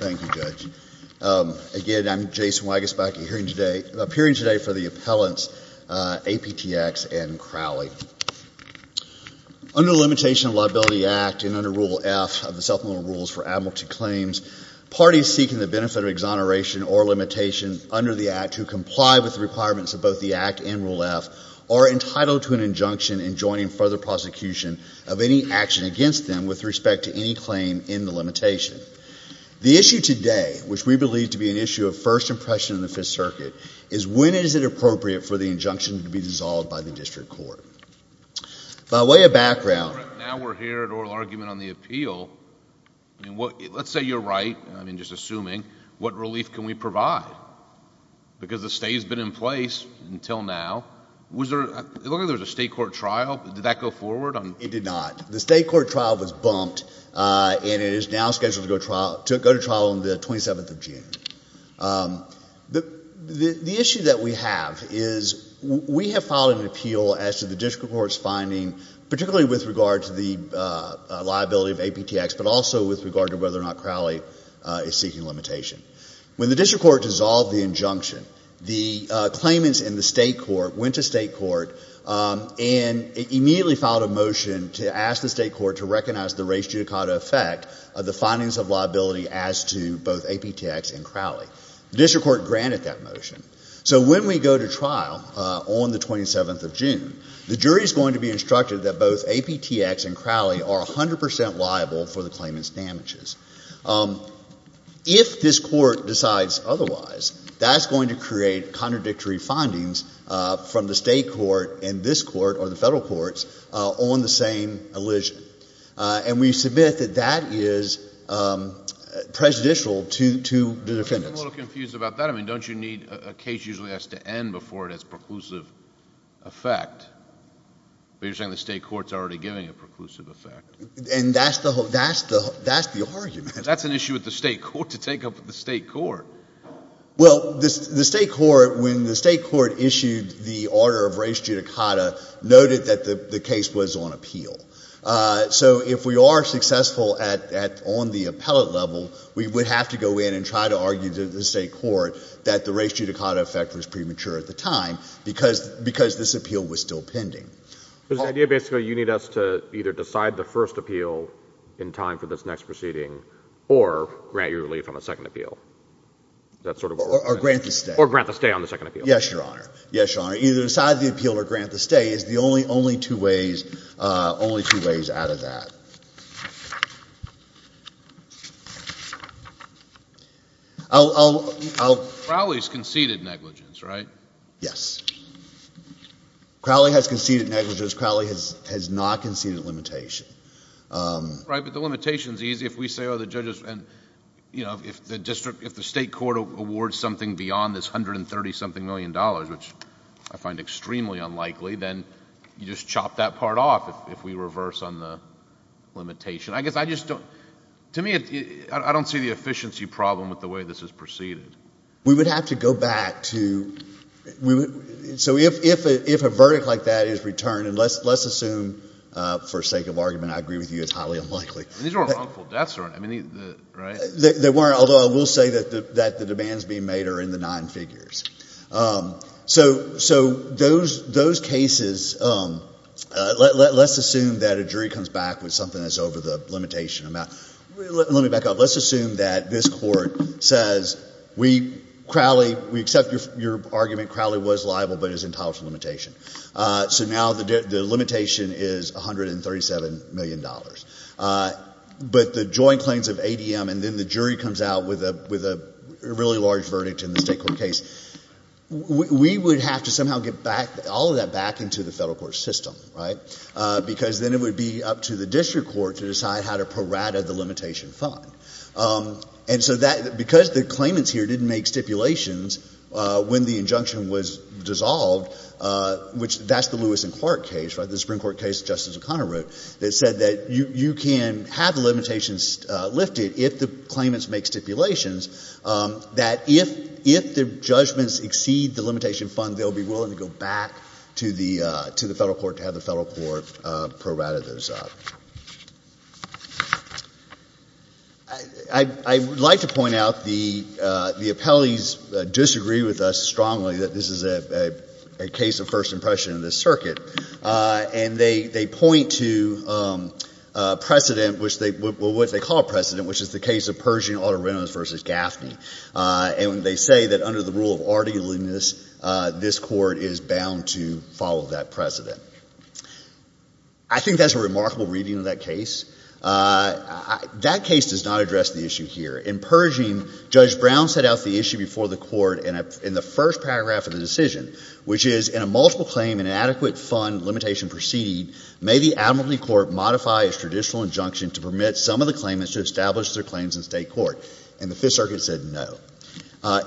Thank you, Judge. Again, I'm Jason Wagus, back appearing today for the appellants A.P.T.X. and Crowley. Under the Limitation of Liability Act and under Rule F of the Supplemental Rules for Admiralty Claims, parties seeking the benefit of exoneration or limitation under the Act to comply with the requirements of both the Act and Rule F are entitled to an injunction enjoining further prosecution of any action against them with respect to any claim in the limitation. The issue today, which we believe to be an issue of first impression in the Fifth Circuit, is when is it appropriate for the injunction to be dissolved by the District Court. By way of background— Now we're here at oral argument on the appeal. Let's say you're right, I mean just assuming, what relief can we provide? Because the stay's been in place until now. It looked like there was a state court trial. Did that go forward? It did not. The state court trial was bumped and it is now scheduled to go to trial on the 27th of June. The issue that we have is we have filed an appeal as to the District Court's finding, particularly with regard to the liability of APTX, but also with regard to whether or not Crowley is seeking limitation. When the District Court dissolved the injunction, the claimants in the state court went to state court and immediately filed a motion to ask the state court to recognize the res judicata effect of the findings of liability as to both APTX and Crowley. The District Court granted that motion. So when we go to trial on the 27th of June, the jury is going to be instructed that both APTX and Crowley are 100 percent liable for the claimant's damages. If this court decides otherwise, that's going to create contradictory findings from the state court and this court or the federal courts on the same allusion. And we submit that that is prejudicial to the defendants. I'm a little confused about that. I mean, don't you need a case usually has to end before it has preclusive effect? But you're saying the state court's already giving a preclusive effect. And that's the argument. That's an issue with the state court to take up with the state court. Well, the state court, when the state court issued the order of res judicata, noted that the case was on appeal. So if we are successful on the appellate level, we would have to go in and try to argue to the state court that the res judicata effect was premature at the time because this appeal was still pending. So the idea basically, you need us to either decide the first appeal in time for this next proceeding or grant your relief on the second appeal. Or grant the stay. Or grant the stay on the second appeal. Yes, Your Honor. Yes, Your Honor. Either decide the appeal or grant the stay is the only two ways out of that. Crowley's conceded negligence, right? Yes. Crowley has conceded negligence. Crowley has not conceded limitation. Right, but the limitation is easy. If we say, oh, the judges... and, you know, if the state court awards something beyond this $130-something million, which I find extremely unlikely, then you just chop that part off if we reverse on the limitation. I guess I just don't... to me, I don't see the efficiency problem with the way this is proceeded. We would have to go back to... so if a verdict like that is returned, and let's assume for sake of argument, I agree with you, it's highly unlikely... I mean, these weren't wrongful deaths, right? They weren't, although I will say that the demands being made are in the nine figures. So those cases... let's assume that a jury comes back with something that's over the limitation amount. Let me back up. Let's assume that this court says, we, Crowley... we accept your argument, Crowley was liable but is entitled to limitation. So now the limitation is $137 million. But the joint claims of ADM and then the jury comes out with a really large verdict in the state court case, we would have to somehow get back... all of that back into the federal court system, right? Because then it would be up to the district court to decide how to prorate the limitation fund. And so that... because the claimants here didn't make stipulations when the injunction was dissolved, which... that's the Lewis and Clark case, right? The Supreme Court case Justice O'Connor wrote that said that you can have the limitations lifted if the claimants make stipulations, that if the judgments exceed the limitation fund, they'll be willing to go back to the federal court to have the federal court prorate those up. I... I would like to point out the... the appellees disagree with us strongly that this is a... a case of first impression in this circuit. And they... they point to precedent, which they... what they call precedent, which is the case of Pershing-Otto Reynolds v. Gaffney. And they say that under the rule of articulateness, this court is... there's a remarkable reading of that case. That case does not address the issue here. In Pershing, Judge Brown set out the issue before the court in the first paragraph of the decision, which is, in a multiple claim and inadequate fund limitation proceeding, may the admiralty court modify its traditional injunction to permit some of the claimants to establish their claims in state court. And the Fifth Circuit said no.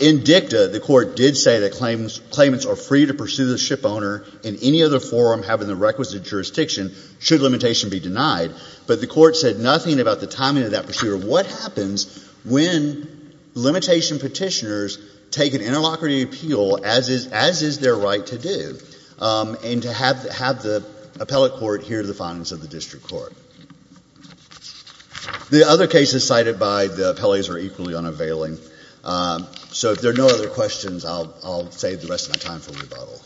In Dicta, the court did say that claimants are free to pursue the shipowner in any other jurisdiction, should limitation be denied. But the court said nothing about the timing of that procedure. What happens when limitation petitioners take an interlocutory appeal, as is... as is their right to do, and to have... have the appellate court hear the findings of the district court? The other cases cited by the appellees are equally unavailing. So if there are no other questions, I'll... I'll save the rest of my time for rebuttal.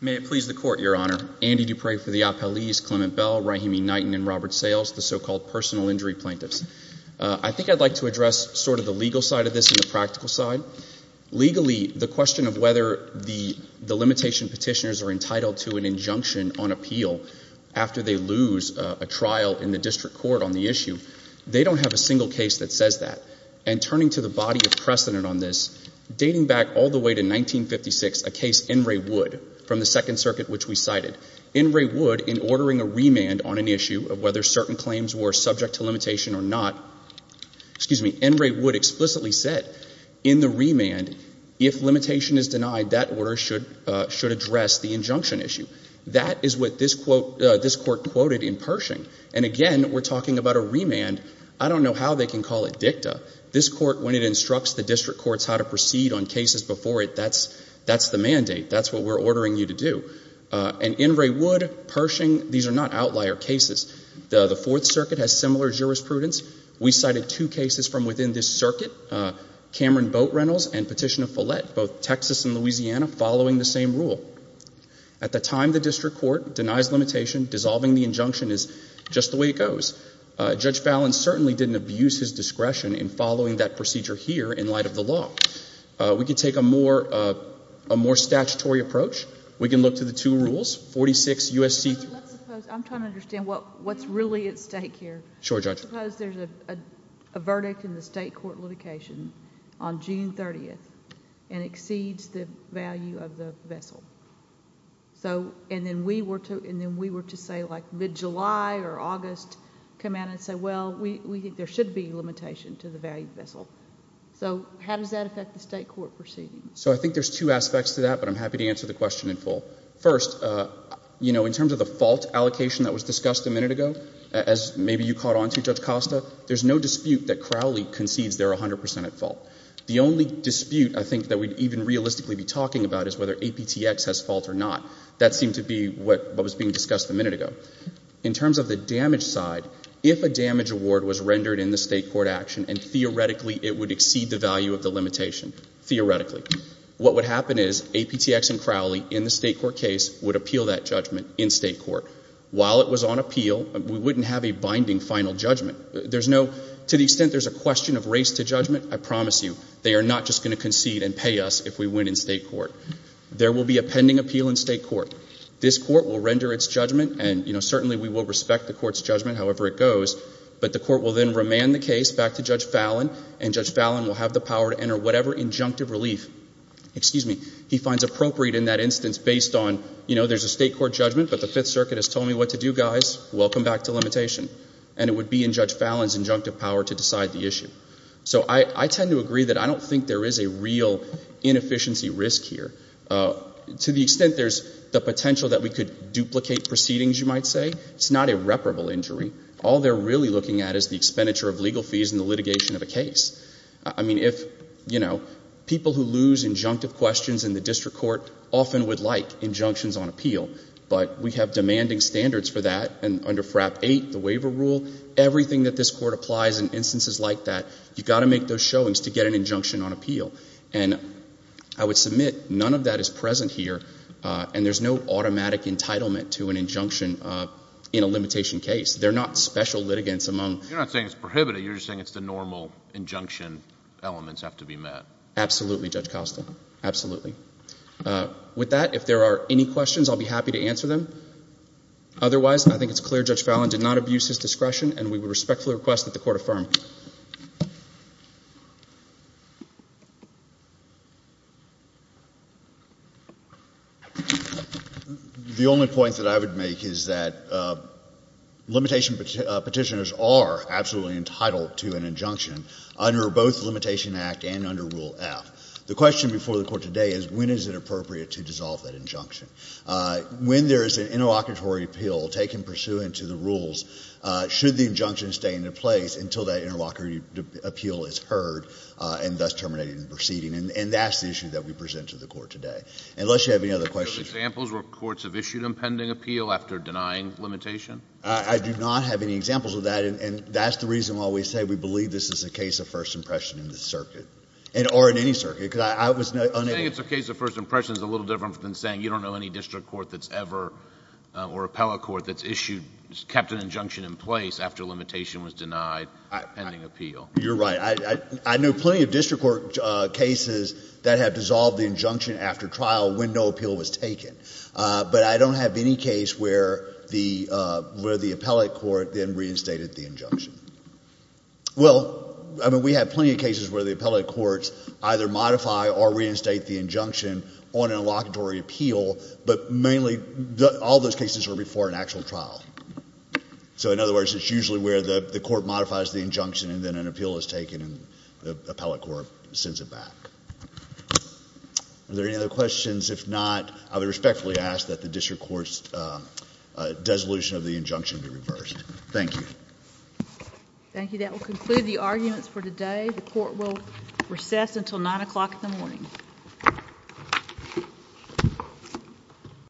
May it please the Court, Your Honor. Andy Dupree for the appellees, Clement Bell, Rahimi Knighton and Robert Sayles, the so-called personal injury plaintiffs. I think I'd like to address sort of the legal side of this and the practical side. Legally, the question of whether the limitation petitioners are entitled to an injunction on appeal after they lose a trial in the district court on the issue, they don't have a single case that says that. And turning to the body of precedent on this, dating back all the way to 1956, a case, Enray Wood, from the Second Circuit which we cited. Enray Wood, in ordering a remand on an issue of whether certain claims were subject to limitation or not... excuse me, Enray Wood explicitly said, in the remand, if limitation is denied, that order should address the injunction issue. That is what this Court quoted in Pershing. And again, we're talking about a remand. I don't know how they can call it dicta. This Court, when it instructs the district courts how to proceed on cases before it, that's the mandate. That's what we're ordering you to do. And Enray Wood, Pershing, these are not outlier cases. The Fourth Circuit has similar jurisprudence. We cited two cases from within this circuit, Cameron Boat Reynolds and Petitioner Follett, both Texas and Louisiana, following the same rule. At the time, the district court denies limitation. Dissolving the injunction is just the way it goes. Judge Fallon certainly didn't abuse his discretion in following that procedure here in light of the law. We can take a more statutory approach. We can look to the two rules, 46 U.S.C.... Let's suppose... I'm trying to understand what's really at stake here. Sure, Judge. Let's suppose there's a verdict in the state court litigation on June 30th and exceeds the value of the vessel. And then we were to say, like, mid-July or August, come out and say, well, we think there should be a limitation to the value of the vessel. So how does that affect the state court proceeding? So I think there's two aspects to that, but I'm happy to answer the question in full. First, in terms of the fault allocation that was discussed a minute ago, as maybe you caught onto, Judge Costa, there's no dispute that Crowley concedes they're 100 percent at fault. The only dispute, I think, that we'd even realistically be talking about is whether APTX has fault or not. That seemed to be what was being discussed a minute ago. In terms of the damage side, if a damage award was rendered in the state court action and theoretically it would exceed the value of the limitation, theoretically, what would happen is APTX and Crowley in the state court case would appeal that judgment in state court. While it was on appeal, we wouldn't have a binding final judgment. There's no—to the extent there's a question of race to judgment, I promise you, they are not just going to concede and pay us if we win in state court. There will be a pending appeal in state court. This court will render its judgment, and certainly we will respect the court's judgment, however it goes, but the court will then remand the case back to Judge Fallon, and Judge Fallon will have the power to enter whatever injunctive relief he finds appropriate in that instance based on, you know, there's a state court judgment, but the Fifth Circuit has told me what to do, guys. Welcome back to limitation. And it would be in Judge Fallon's injunctive power to decide the issue. So I tend to agree that I don't think there is a real inefficiency risk here. To the extent there's the potential that we could duplicate proceedings, you might say, it's not a reparable injury. All they're really looking at is the expenditure of legal fees and the litigation of a case. I mean, if, you know, people who lose injunctive questions in the district court often would like injunctions on appeal, but we have demanding standards for that, and under FRAP 8, the waiver rule, everything that this court applies in instances like that, you've got to make those showings to get an injunction on appeal. And I would submit none of that is present here, and there's no automatic entitlement to an injunction in a limitation case. They're not special litigants among... You're not saying it's prohibited. You're just saying it's the normal injunction elements have to be met. Absolutely, Judge Costa. Absolutely. With that, if there are any questions, I'll be happy to answer them. Otherwise, I think it's clear Judge Fallon did not abuse his discretion, and we would respectfully request that the court affirm. The only point that I would make is that limitation petitioners are absolutely entitled to an The question before the court today is, when is it appropriate to dissolve that injunction? When there is an interlocutory appeal taken pursuant to the rules, should the injunction stay into place until that interlocutory appeal is heard and thus terminated in the proceeding? And that's the issue that we present to the court today. Unless you have any other questions... Do you have examples where courts have issued impending appeal after denying limitation? I do not have any examples of that, and that's the reason why we say we believe this is a case of first impression in this circuit, or in any circuit, because I was unable... You're saying it's a case of first impression is a little different than saying you don't know any district court that's ever, or appellate court, that's issued, kept an injunction in place after limitation was denied pending appeal. You're right. I know plenty of district court cases that have dissolved the injunction after trial when no appeal was taken, but I don't have any case where the appellate court then I mean, we have plenty of cases where the appellate courts either modify or reinstate the injunction on an interlocutory appeal, but mainly all those cases are before an actual trial. So in other words, it's usually where the court modifies the injunction and then an appeal is taken and the appellate court sends it back. Are there any other questions? If not, I would respectfully ask that the district court's dissolution of the injunction be reversed. Thank you. Thank you. That will conclude the arguments for today. The court will recess until 9 o'clock